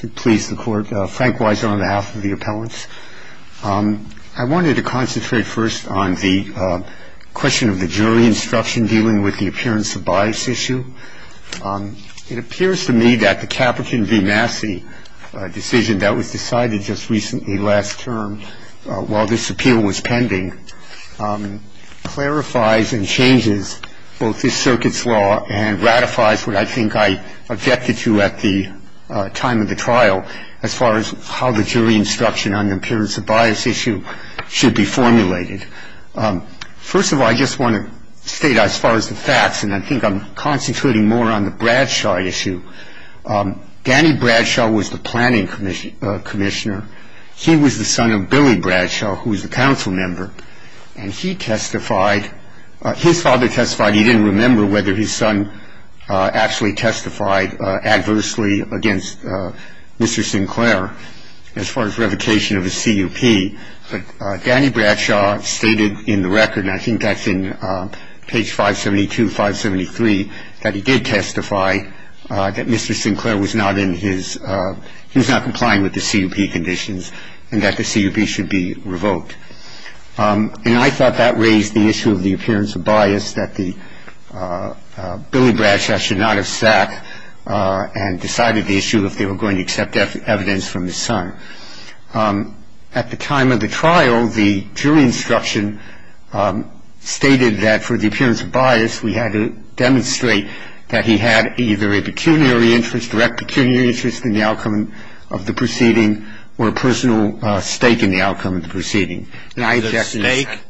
Frank Weiser on behalf of the appellants. I wanted to concentrate first on the question of the jury instruction dealing with the appearance of bias issue. It appears to me that the Caperton v. Massey decision that was decided just recently, last term, while this appeal was pending, clarifies and changes both this circuit's law and ratifies what I think I objected to at the time of the trial as far as how the jury instruction on the appearance of bias issue should be formulated. First of all, I just want to state as far as the facts, and I think I'm concentrating more on the Bradshaw issue, Danny Bradshaw was the planning commissioner. He was the son of Billy Bradshaw, who was a council member, and he testified, his father testified, he didn't remember whether his son actually testified adversely against Mr. Sinclair as far as revocation of his CUP, but Danny Bradshaw stated in the record, and I think that's in page 572, 573, that he did testify that Mr. Sinclair was not in his, he was not complying with the CUP conditions and that the CUP should be revoked. And I thought that raised the issue of the appearance of bias, that Billy Bradshaw should not have sat and decided the issue if they were going to accept evidence from his son. At the time of the trial, the jury instruction stated that for the appearance of bias, we had to demonstrate that he had either a pecuniary interest, direct pecuniary interest, in the outcome of the proceeding, or a personal stake in the outcome of the proceeding. And I object to that. Is it a stake?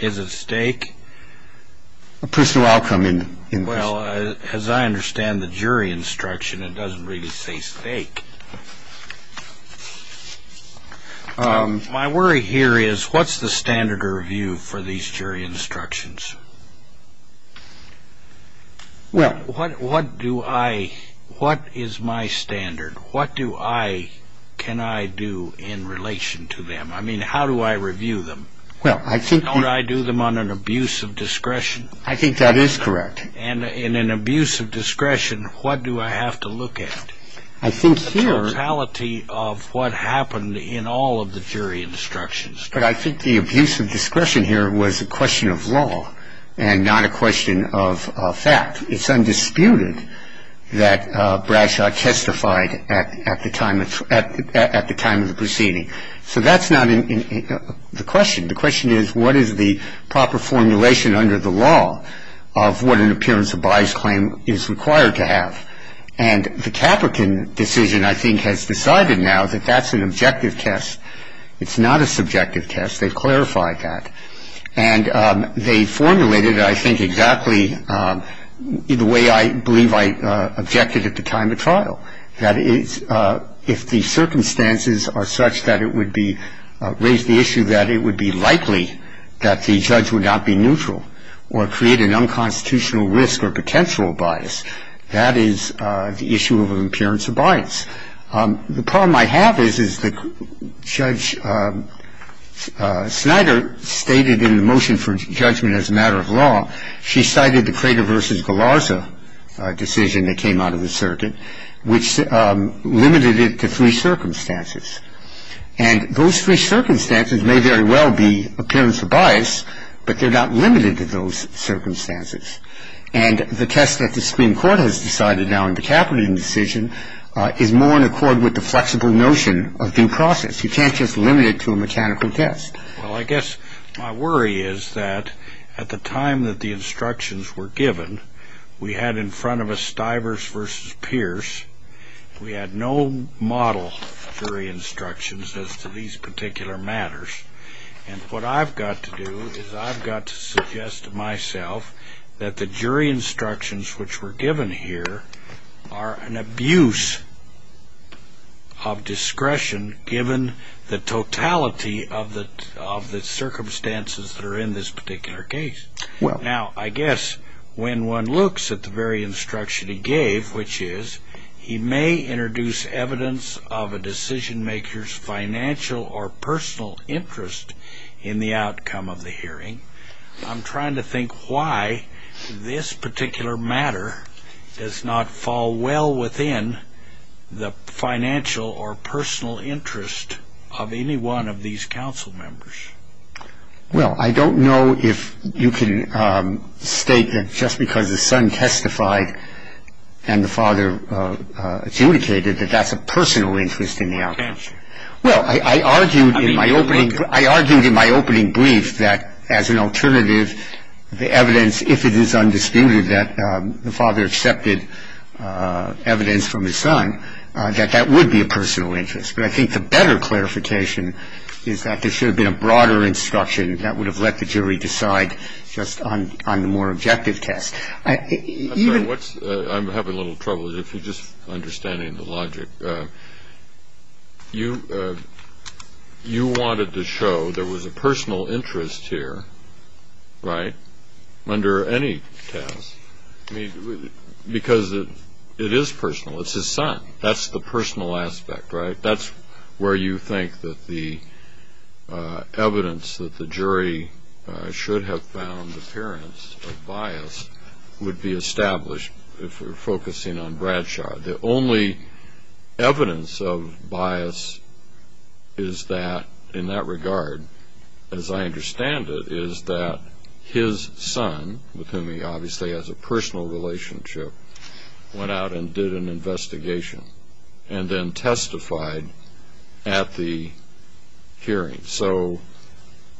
Is it a stake? A personal outcome in the proceeding. Well, as I understand the jury instruction, it doesn't really say stake. My worry here is what's the standard of review for these jury instructions? Well, what do I, what is my standard? What do I, can I do in relation to them? I mean, how do I review them? Well, I think. Don't I do them on an abuse of discretion? I think that is correct. And in an abuse of discretion, what do I have to look at? I think here. The totality of what happened in all of the jury instructions. But I think the abuse of discretion here was a question of law and not a question of fact. It's undisputed that Bradshaw testified at the time of the proceeding. So that's not the question. The question is what is the proper formulation under the law of what an appearance of bias claim is required to have. And the Caprican decision, I think, has decided now that that's an objective test. It's not a subjective test. They've clarified that. And they formulated it, I think, exactly the way I believe I objected at the time of trial. That is, if the circumstances are such that it would be, raise the issue that it would be likely that the judge would not be neutral or create an unconstitutional risk or potential bias, that is the issue of an appearance of bias. The problem I have is, is that Judge Snyder stated in the motion for judgment as a matter of law, she cited the Crater v. Galarza decision that came out of the circuit, which limited it to three circumstances. And those three circumstances may very well be appearance of bias, but they're not limited to those circumstances. And the test that the Supreme Court has decided now in the Caprican decision is more in accord with the flexible notion of due process. You can't just limit it to a mechanical test. Well, I guess my worry is that at the time that the instructions were given, we had in front of us Stivers v. Pierce. We had no model jury instructions as to these particular matters. And what I've got to do is I've got to suggest to myself that the jury instructions which were given here are an abuse of discretion given the totality of the circumstances that are in this particular case. Now, I guess when one looks at the very instruction he gave, which is he may introduce evidence of a decision maker's financial or personal interest in the outcome of the hearing, I'm trying to think why this particular matter does not fall well within the financial or personal interest of any one of these council members. Well, I don't know if you can state that just because the son testified and the father adjudicated that that's a personal interest in the outcome. Well, I argued in my opening brief that as an alternative, the evidence, if it is undisputed that the father accepted evidence from his son, that that would be a personal interest. But I think the better clarification is that there should have been a broader instruction that would have let the jury decide just on the more objective test. I'm having a little trouble just understanding the logic. You wanted to show there was a personal interest here, right, under any test, because it is personal. It's his son. That's the personal aspect, right? That's where you think that the evidence that the jury should have found appearance of bias would be established if we're focusing on Bradshaw. The only evidence of bias is that, in that regard, as I understand it, is that his son, with whom he obviously has a personal relationship, went out and did an investigation and then testified at the hearing. So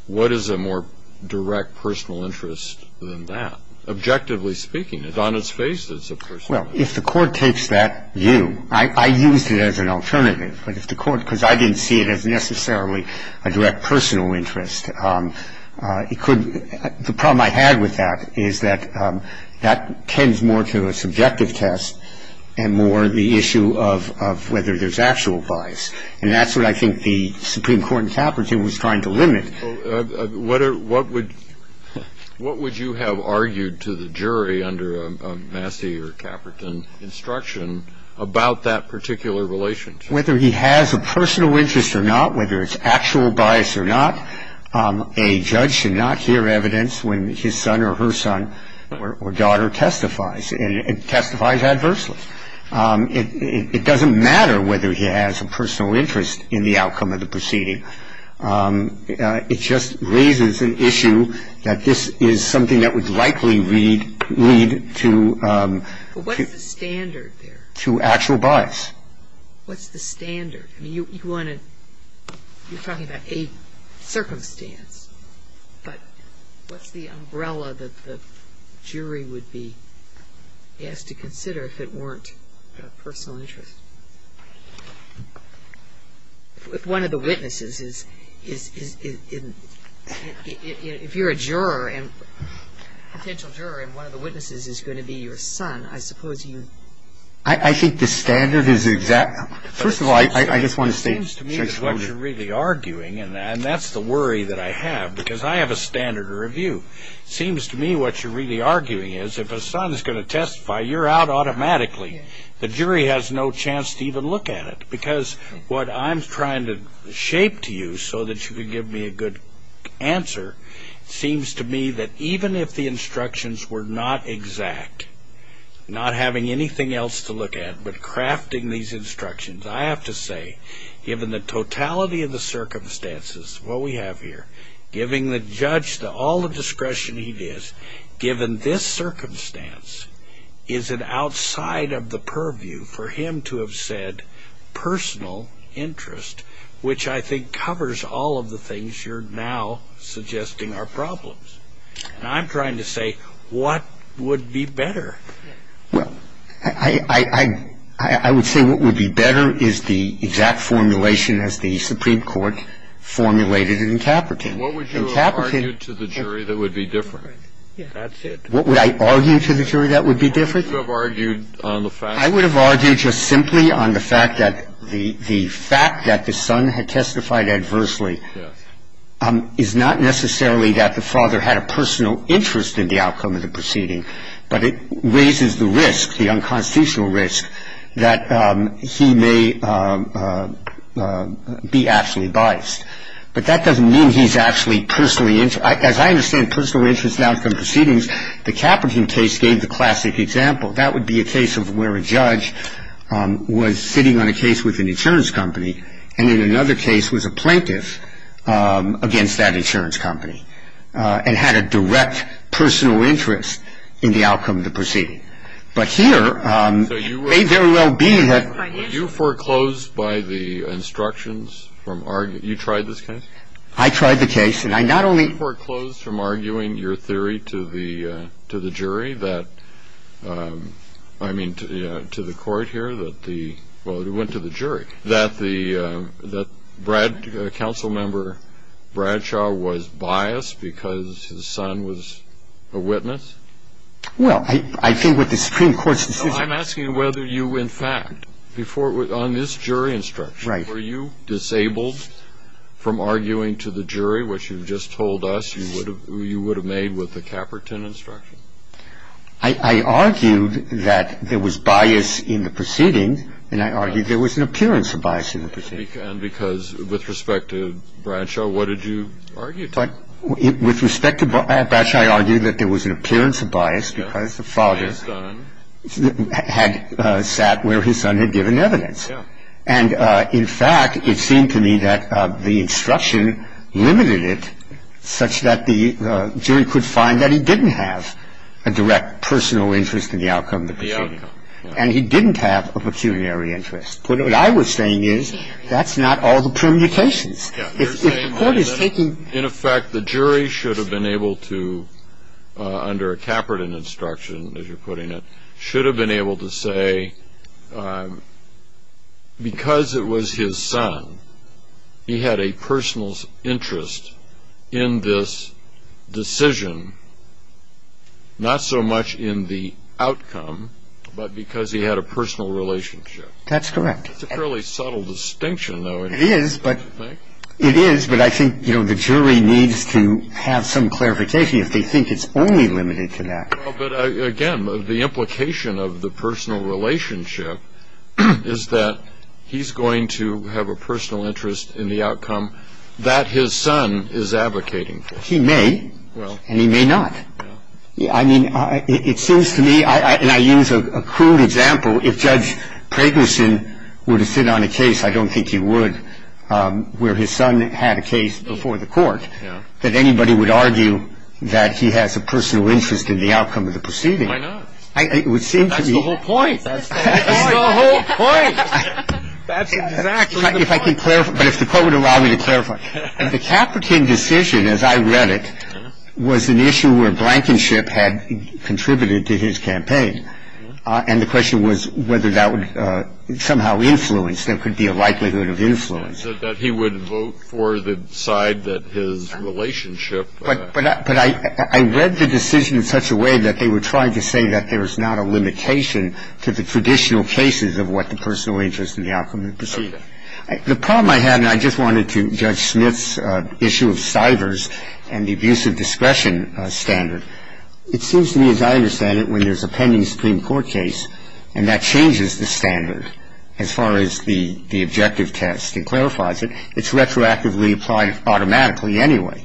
what is a more direct personal interest than that? Objectively speaking, it's on its face that it's a personal interest. Well, if the Court takes that view, I used it as an alternative. But if the Court, because I didn't see it as necessarily a direct personal interest, the problem I had with that is that that tends more to a subjective test and more the issue of whether there's actual bias. And that's what I think the Supreme Court in Caperton was trying to limit. What would you have argued to the jury under a Massey or Caperton instruction about that particular relationship? Whether he has a personal interest or not, whether it's actual bias or not, a judge should not hear evidence when his son or her son or daughter testifies. And it testifies adversely. It doesn't matter whether he has a personal interest in the outcome of the proceeding. It just raises an issue that this is something that would likely lead to actual bias. What's the standard? I mean, you want to, you're talking about a circumstance. But what's the umbrella that the jury would be asked to consider if it weren't a personal interest? If one of the witnesses is, if you're a juror and, potential juror, and one of the witnesses is going to be your son, I suppose you. I think the standard is exact. First of all, I just want to say. It seems to me that what you're really arguing, and that's the worry that I have, because I have a standard of review. It seems to me what you're really arguing is if a son is going to testify, you're out automatically. The jury has no chance to even look at it. Because what I'm trying to shape to you so that you can give me a good answer seems to me that even if the instructions were not exact, not having anything else to look at, but crafting these instructions, I have to say, given the totality of the circumstances, what we have here, giving the judge all the discretion he needs, given this circumstance, is it outside of the purview for him to have said personal interest, which I think covers all of the things you're now suggesting are problems. And I'm trying to say what would be better. Well, I would say what would be better is the exact formulation as the Supreme Court formulated in Caperton. What would you have argued to the jury that would be different? Yeah, that's it. What would I argue to the jury that would be different? What would you have argued on the facts? I would argue that the fact that the son had testified adversely is not necessarily that the father had a personal interest in the outcome of the proceeding, but it raises the risk, the unconstitutional risk, that he may be actually biased. But that doesn't mean he's actually personally interested. As I understand personal interest in outcome proceedings, the Caperton case gave the classic example. That would be a case of where a judge was sitting on a case with an insurance company and in another case was a plaintiff against that insurance company and had a direct personal interest in the outcome of the proceeding. But here, it may very well be that. Were you foreclosed by the instructions from arguing? You tried this case? I tried the case, and I not only. Were you foreclosed from arguing your theory to the jury that, I mean to the court here, well, it went to the jury, that Councilmember Bradshaw was biased because his son was a witness? Well, I think what the Supreme Court's decision. I'm asking whether you, in fact, on this jury instruction, were you disabled from arguing to the jury, which you've just told us you would have made with the Caperton instruction? I argued that there was bias in the proceeding, and I argued there was an appearance of bias in the proceeding. And because with respect to Bradshaw, what did you argue? With respect to Bradshaw, I argued that there was an appearance of bias because the father had sat where his son had given evidence. And in fact, it seemed to me that the instruction limited it such that the jury could find that he didn't have a direct personal interest in the outcome of the proceeding. And he didn't have a pecuniary interest. But what I was saying is that's not all the permutations. If the court is taking. In effect, the jury should have been able to, under a Caperton instruction, as you're putting it, should have been able to say because it was his son, he had a personal interest in this decision, not so much in the outcome, but because he had a personal relationship. That's correct. That's a fairly subtle distinction, though, isn't it? It is, but I think the jury needs to have some clarification if they think it's only limited to that. But, again, the implication of the personal relationship is that he's going to have a personal interest in the outcome that his son is advocating for. He may. And he may not. I mean, it seems to me, and I use a crude example, if Judge Pregnison were to sit on a case, I don't think he would, where his son had a case before the court, that anybody would argue that he has a personal interest in the outcome of the proceeding. Why not? It would seem to me. That's the whole point. That's the whole point. That's exactly the point. But if the court would allow me to clarify. The Caperton decision, as I read it, was an issue where Blankenship had contributed to his campaign. And the question was whether that would somehow influence, there could be a likelihood of influence. That he would vote for the side that his relationship. But I read the decision in such a way that they were trying to say that there is not a limitation to the traditional cases of what the personal interest in the outcome of the proceeding. The problem I had, and I just wanted to, Judge Smith's issue of CIFRS and the abuse of discretion standard. It seems to me, as I understand it, when there's a pending Supreme Court case, and that changes the standard as far as the objective test. It clarifies it. It's retroactively applied automatically anyway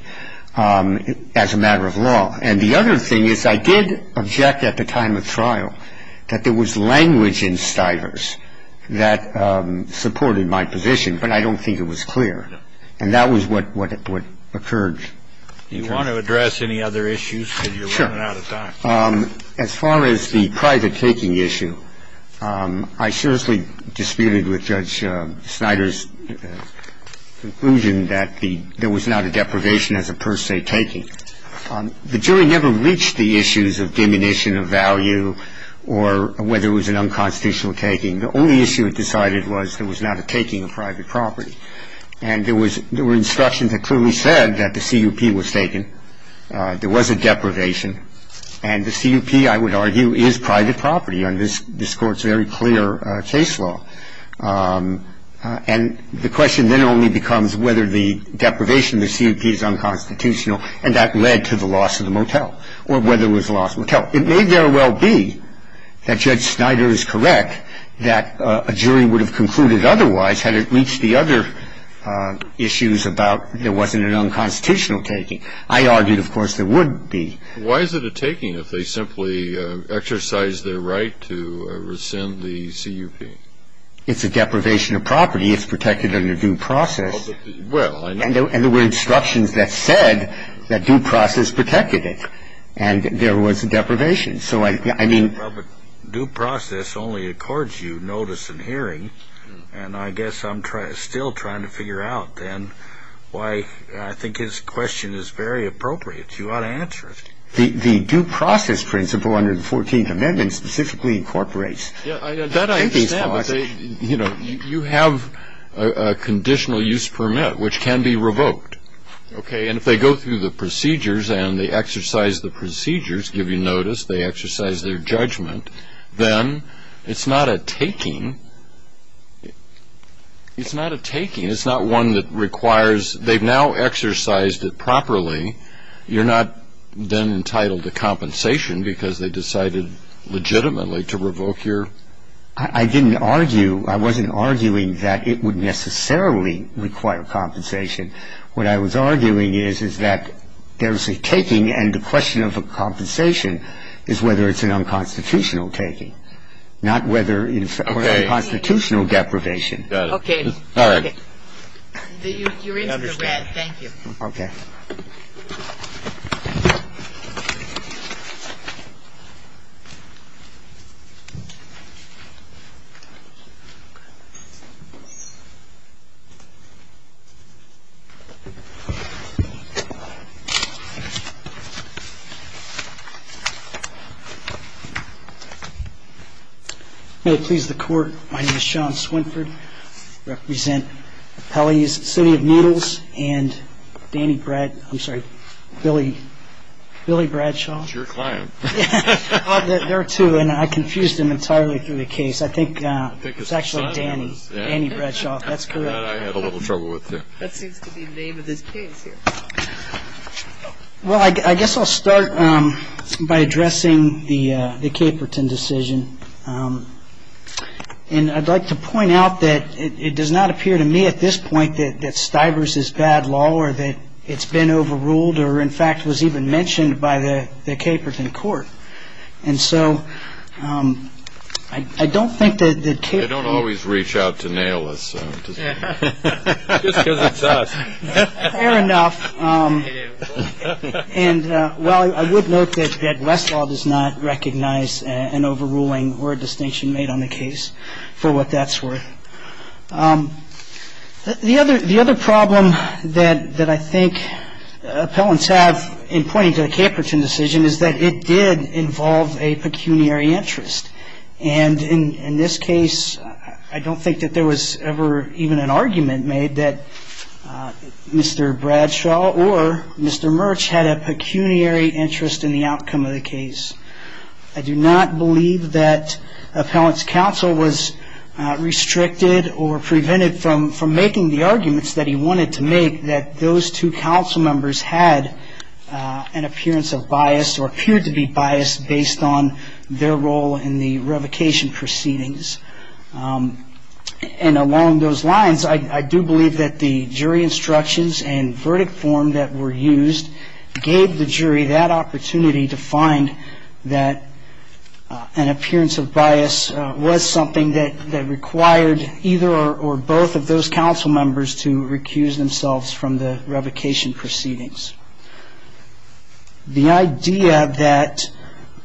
as a matter of law. And the other thing is I did object at the time of trial that there was language in CIFRS that supported my position. But I don't think it was clear. And that was what occurred. Do you want to address any other issues? Sure. Because you're running out of time. As far as the private taking issue, I seriously disputed with Judge Snyder's conclusion that there was not a deprivation as a per se taking. The jury never reached the issues of diminution of value or whether it was an unconstitutional taking. The only issue it decided was there was not a taking of private property. And there were instructions that clearly said that the CUP was taken, there was a deprivation, and the CUP, I would argue, is private property under this Court's very clear case law. And the question then only becomes whether the deprivation of the CUP is unconstitutional, and that led to the loss of the motel or whether it was a lost motel. It may very well be that Judge Snyder is correct that a jury would have concluded otherwise had it reached the other issues about there wasn't an unconstitutional taking. I argued, of course, there would be. Why is it a taking if they simply exercise their right to rescind the CUP? It's a deprivation of property. It's protected under due process. Well, I know. And there were instructions that said that due process protected it, and there was a deprivation. So I mean... Well, but due process only accords you notice and hearing, and I guess I'm still trying to figure out then why I think his question is very appropriate. You ought to answer it. The due process principle under the 14th Amendment specifically incorporates... That I understand, but you have a conditional use permit, which can be revoked, okay? And if they go through the procedures and they exercise the procedures, give you notice, they exercise their judgment, then it's not a taking. It's not a taking. It's not one that requires... They've now exercised it properly. You're not then entitled to compensation because they decided legitimately to revoke your... I didn't argue. I wasn't arguing that it would necessarily require compensation. What I was arguing is that there's a taking, and the question of a compensation is whether it's an unconstitutional taking, not whether it's a constitutional deprivation. Okay. All right. You're into the red. Thank you. Okay. May it please the Court. My name is Sean Swinford. I represent Pele's City of Needles and Danny Brad... I'm sorry, Billy Bradshaw. He's your client. There are two, and I confused them entirely through the case. I think it's actually Danny, Danny Bradshaw. That's correct. I had a little trouble with that. That seems to be the name of this case here. Well, I guess I'll start by addressing the Caperton decision. And I'd like to point out that it does not appear to me at this point that Stivers is bad law or that it's been overruled or, in fact, was even mentioned by the Caperton court. And so I don't think that Caperton... They don't always reach out to nail us. Just because it's us. Fair enough. And, well, I would note that Westlaw does not recognize an overruling or a distinction made on the case for what that's worth. The other problem that I think appellants have in pointing to the Caperton decision is that it did involve a pecuniary interest. And in this case, I don't think that there was ever even an argument made that Mr. Bradshaw or Mr. Murch had a pecuniary interest in the outcome of the case. I do not believe that appellants' counsel was restricted or prevented from making the arguments that he wanted to make, that those two counsel members had an appearance of bias or appeared to be biased based on their role in the revocation proceedings. And along those lines, I do believe that the jury instructions and verdict form that were used gave the jury that opportunity to find that an appearance of bias was something that required either or both of those counsel members to recuse themselves from the revocation proceedings. The idea that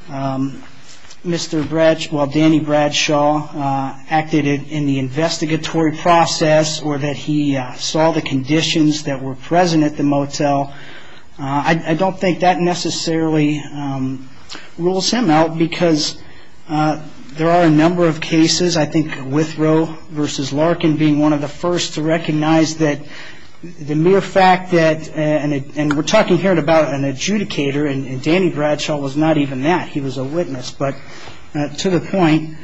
Mr. Bradshaw, Danny Bradshaw, acted in the investigatory process or that he saw the conditions that were present at the motel, I don't think that necessarily rules him out because there are a number of cases, I think Withrow v. Larkin being one of the first to recognize that the mere fact that and we're talking here about an adjudicator and Danny Bradshaw was not even that. He was a witness. But to the point,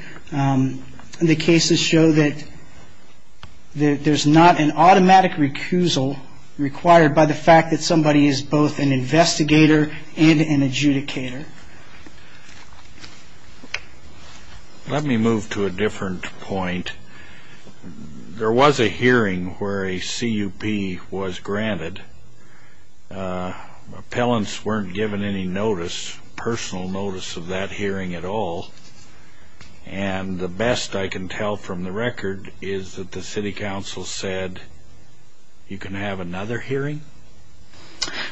the cases show that there's not an automatic recusal required by the fact that somebody is both an investigator and an adjudicator. Let me move to a different point. There was a hearing where a CUP was granted. Appellants weren't given any notice, personal notice of that hearing at all. And the best I can tell from the record is that the city council said you can have another hearing?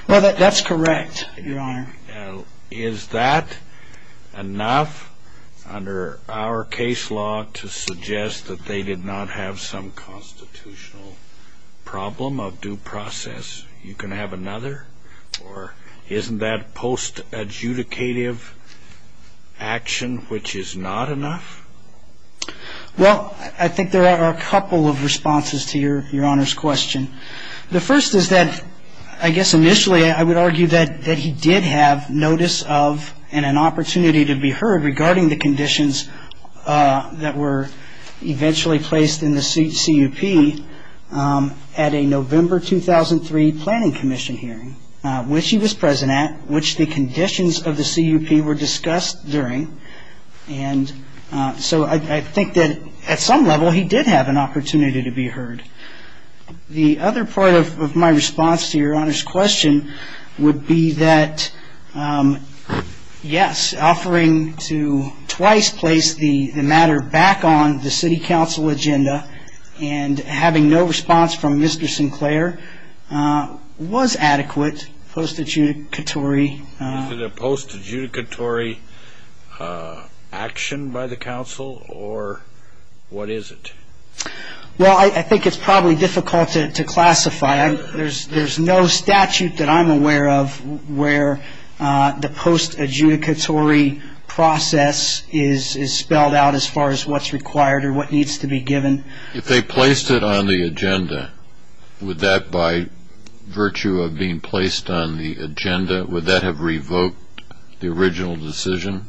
Well, that's correct, Your Honor. Is that enough under our case law to suggest that they did not have some constitutional problem of due process, you can have another? Or isn't that post-adjudicative action which is not enough? Well, I think there are a couple of responses to Your Honor's question. The first is that I guess initially I would argue that he did have notice of and an opportunity to be heard regarding the conditions that were eventually placed in the CUP at a November 2003 planning commission hearing which he was present at, which the conditions of the CUP were discussed during. And so I think that at some level he did have an opportunity to be heard. The other part of my response to Your Honor's question would be that, yes, offering to twice place the matter back on the city council agenda and having no response from Mr. Sinclair was adequate post-adjudicatory. Is it a post-adjudicatory action by the council or what is it? Well, I think it's probably difficult to classify. There's no statute that I'm aware of where the post-adjudicatory process is spelled out as far as what's required or what needs to be given. If they placed it on the agenda, would that by virtue of being placed on the agenda, would that have revoked the original decision?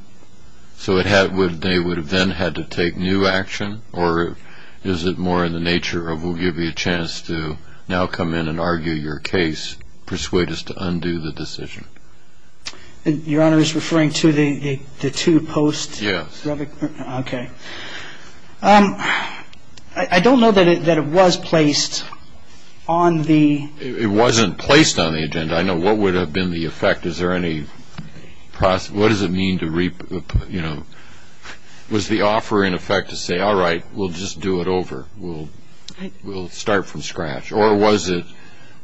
So they would have then had to take new action? Or is it more in the nature of we'll give you a chance to now come in and argue your case, persuade us to undo the decision? Your Honor is referring to the two posts? Yes. Okay. I don't know that it was placed on the... It wasn't placed on the agenda. I know what would have been the effect. Is there any process? What does it mean to, you know, was the offer in effect to say, all right, we'll just do it over. We'll start from scratch. Or was it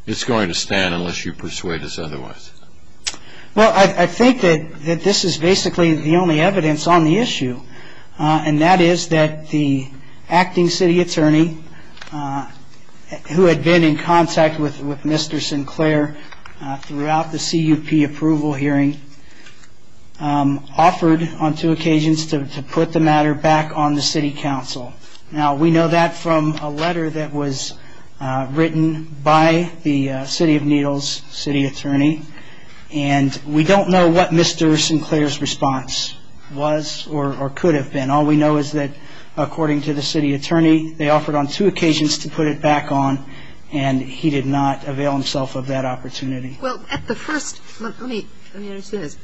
it's going to stand unless you persuade us otherwise? Well, I think that this is basically the only evidence on the issue, and that is that the acting city attorney who had been in contact with Mr. Sinclair throughout the CUP approval hearing offered on two occasions to put the matter back on the city council. Now, we know that from a letter that was written by the city of Needles city attorney, and we don't know what Mr. Sinclair's response was or could have been. All we know is that, according to the city attorney, they offered on two occasions to put it back on, and he did not avail himself of that opportunity. Well, at the first... Let me understand this.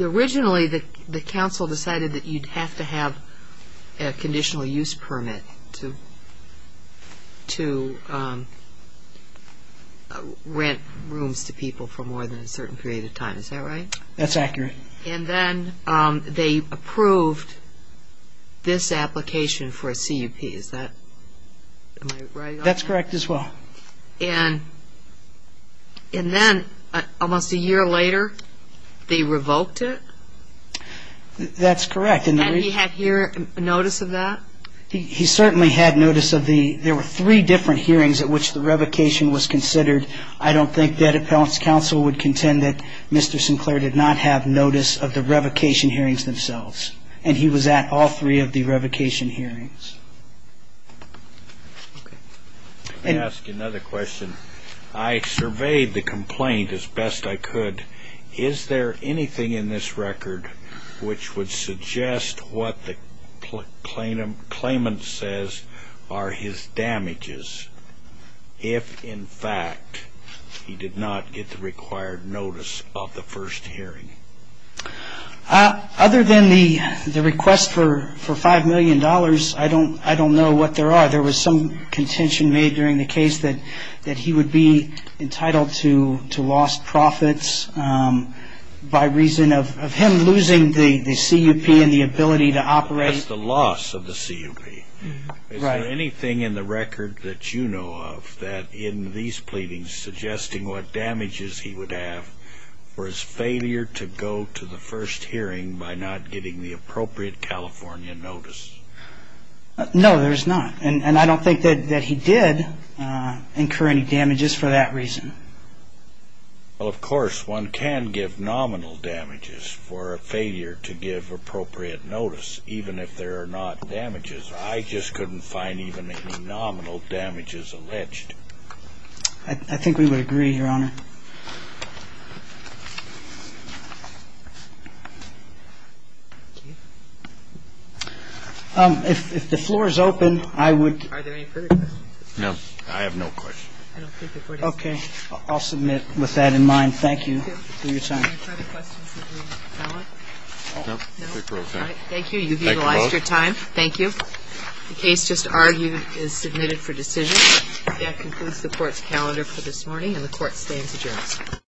Originally the council decided that you'd have to have a conditional use permit to rent rooms to people for more than a certain period of time. Is that right? That's accurate. And then they approved this application for a CUP. Is that right? That's correct as well. And then, almost a year later, they revoked it? That's correct. And he had notice of that? He certainly had notice of the... There were three different hearings at which the revocation was considered. I don't think the Ed Appellants Council would contend that Mr. Sinclair did not have notice of the revocation hearings themselves, and he was at all three of the revocation hearings. Let me ask you another question. I surveyed the complaint as best I could. Is there anything in this record which would suggest what the claimant says are his damages if, in fact, he did not get the required notice of the first hearing? Other than the request for $5 million, I don't know what there are. There was some contention made during the case that he would be entitled to lost profits by reason of him losing the CUP and the ability to operate. That's the loss of the CUP. Is there anything in the record that you know of that, in these pleadings, suggesting what damages he would have for his failure to go to the first hearing by not getting the appropriate California notice? No, there's not. And I don't think that he did incur any damages for that reason. Well, of course, one can give nominal damages for a failure to give appropriate notice, even if there are not damages. I just couldn't find even any nominal damages alleged. I think we would agree, Your Honor. If the floor is open, I would. Are there any further questions? No. I have no questions. Okay. I'll submit with that in mind. Thank you for your time. Okay. Any further questions from the panel? No. Thank you both. Thank you. You've utilized your time. Thank you. The case just argued is submitted for decision. That concludes the Court's calendar for this morning, and the Court stands adjourned.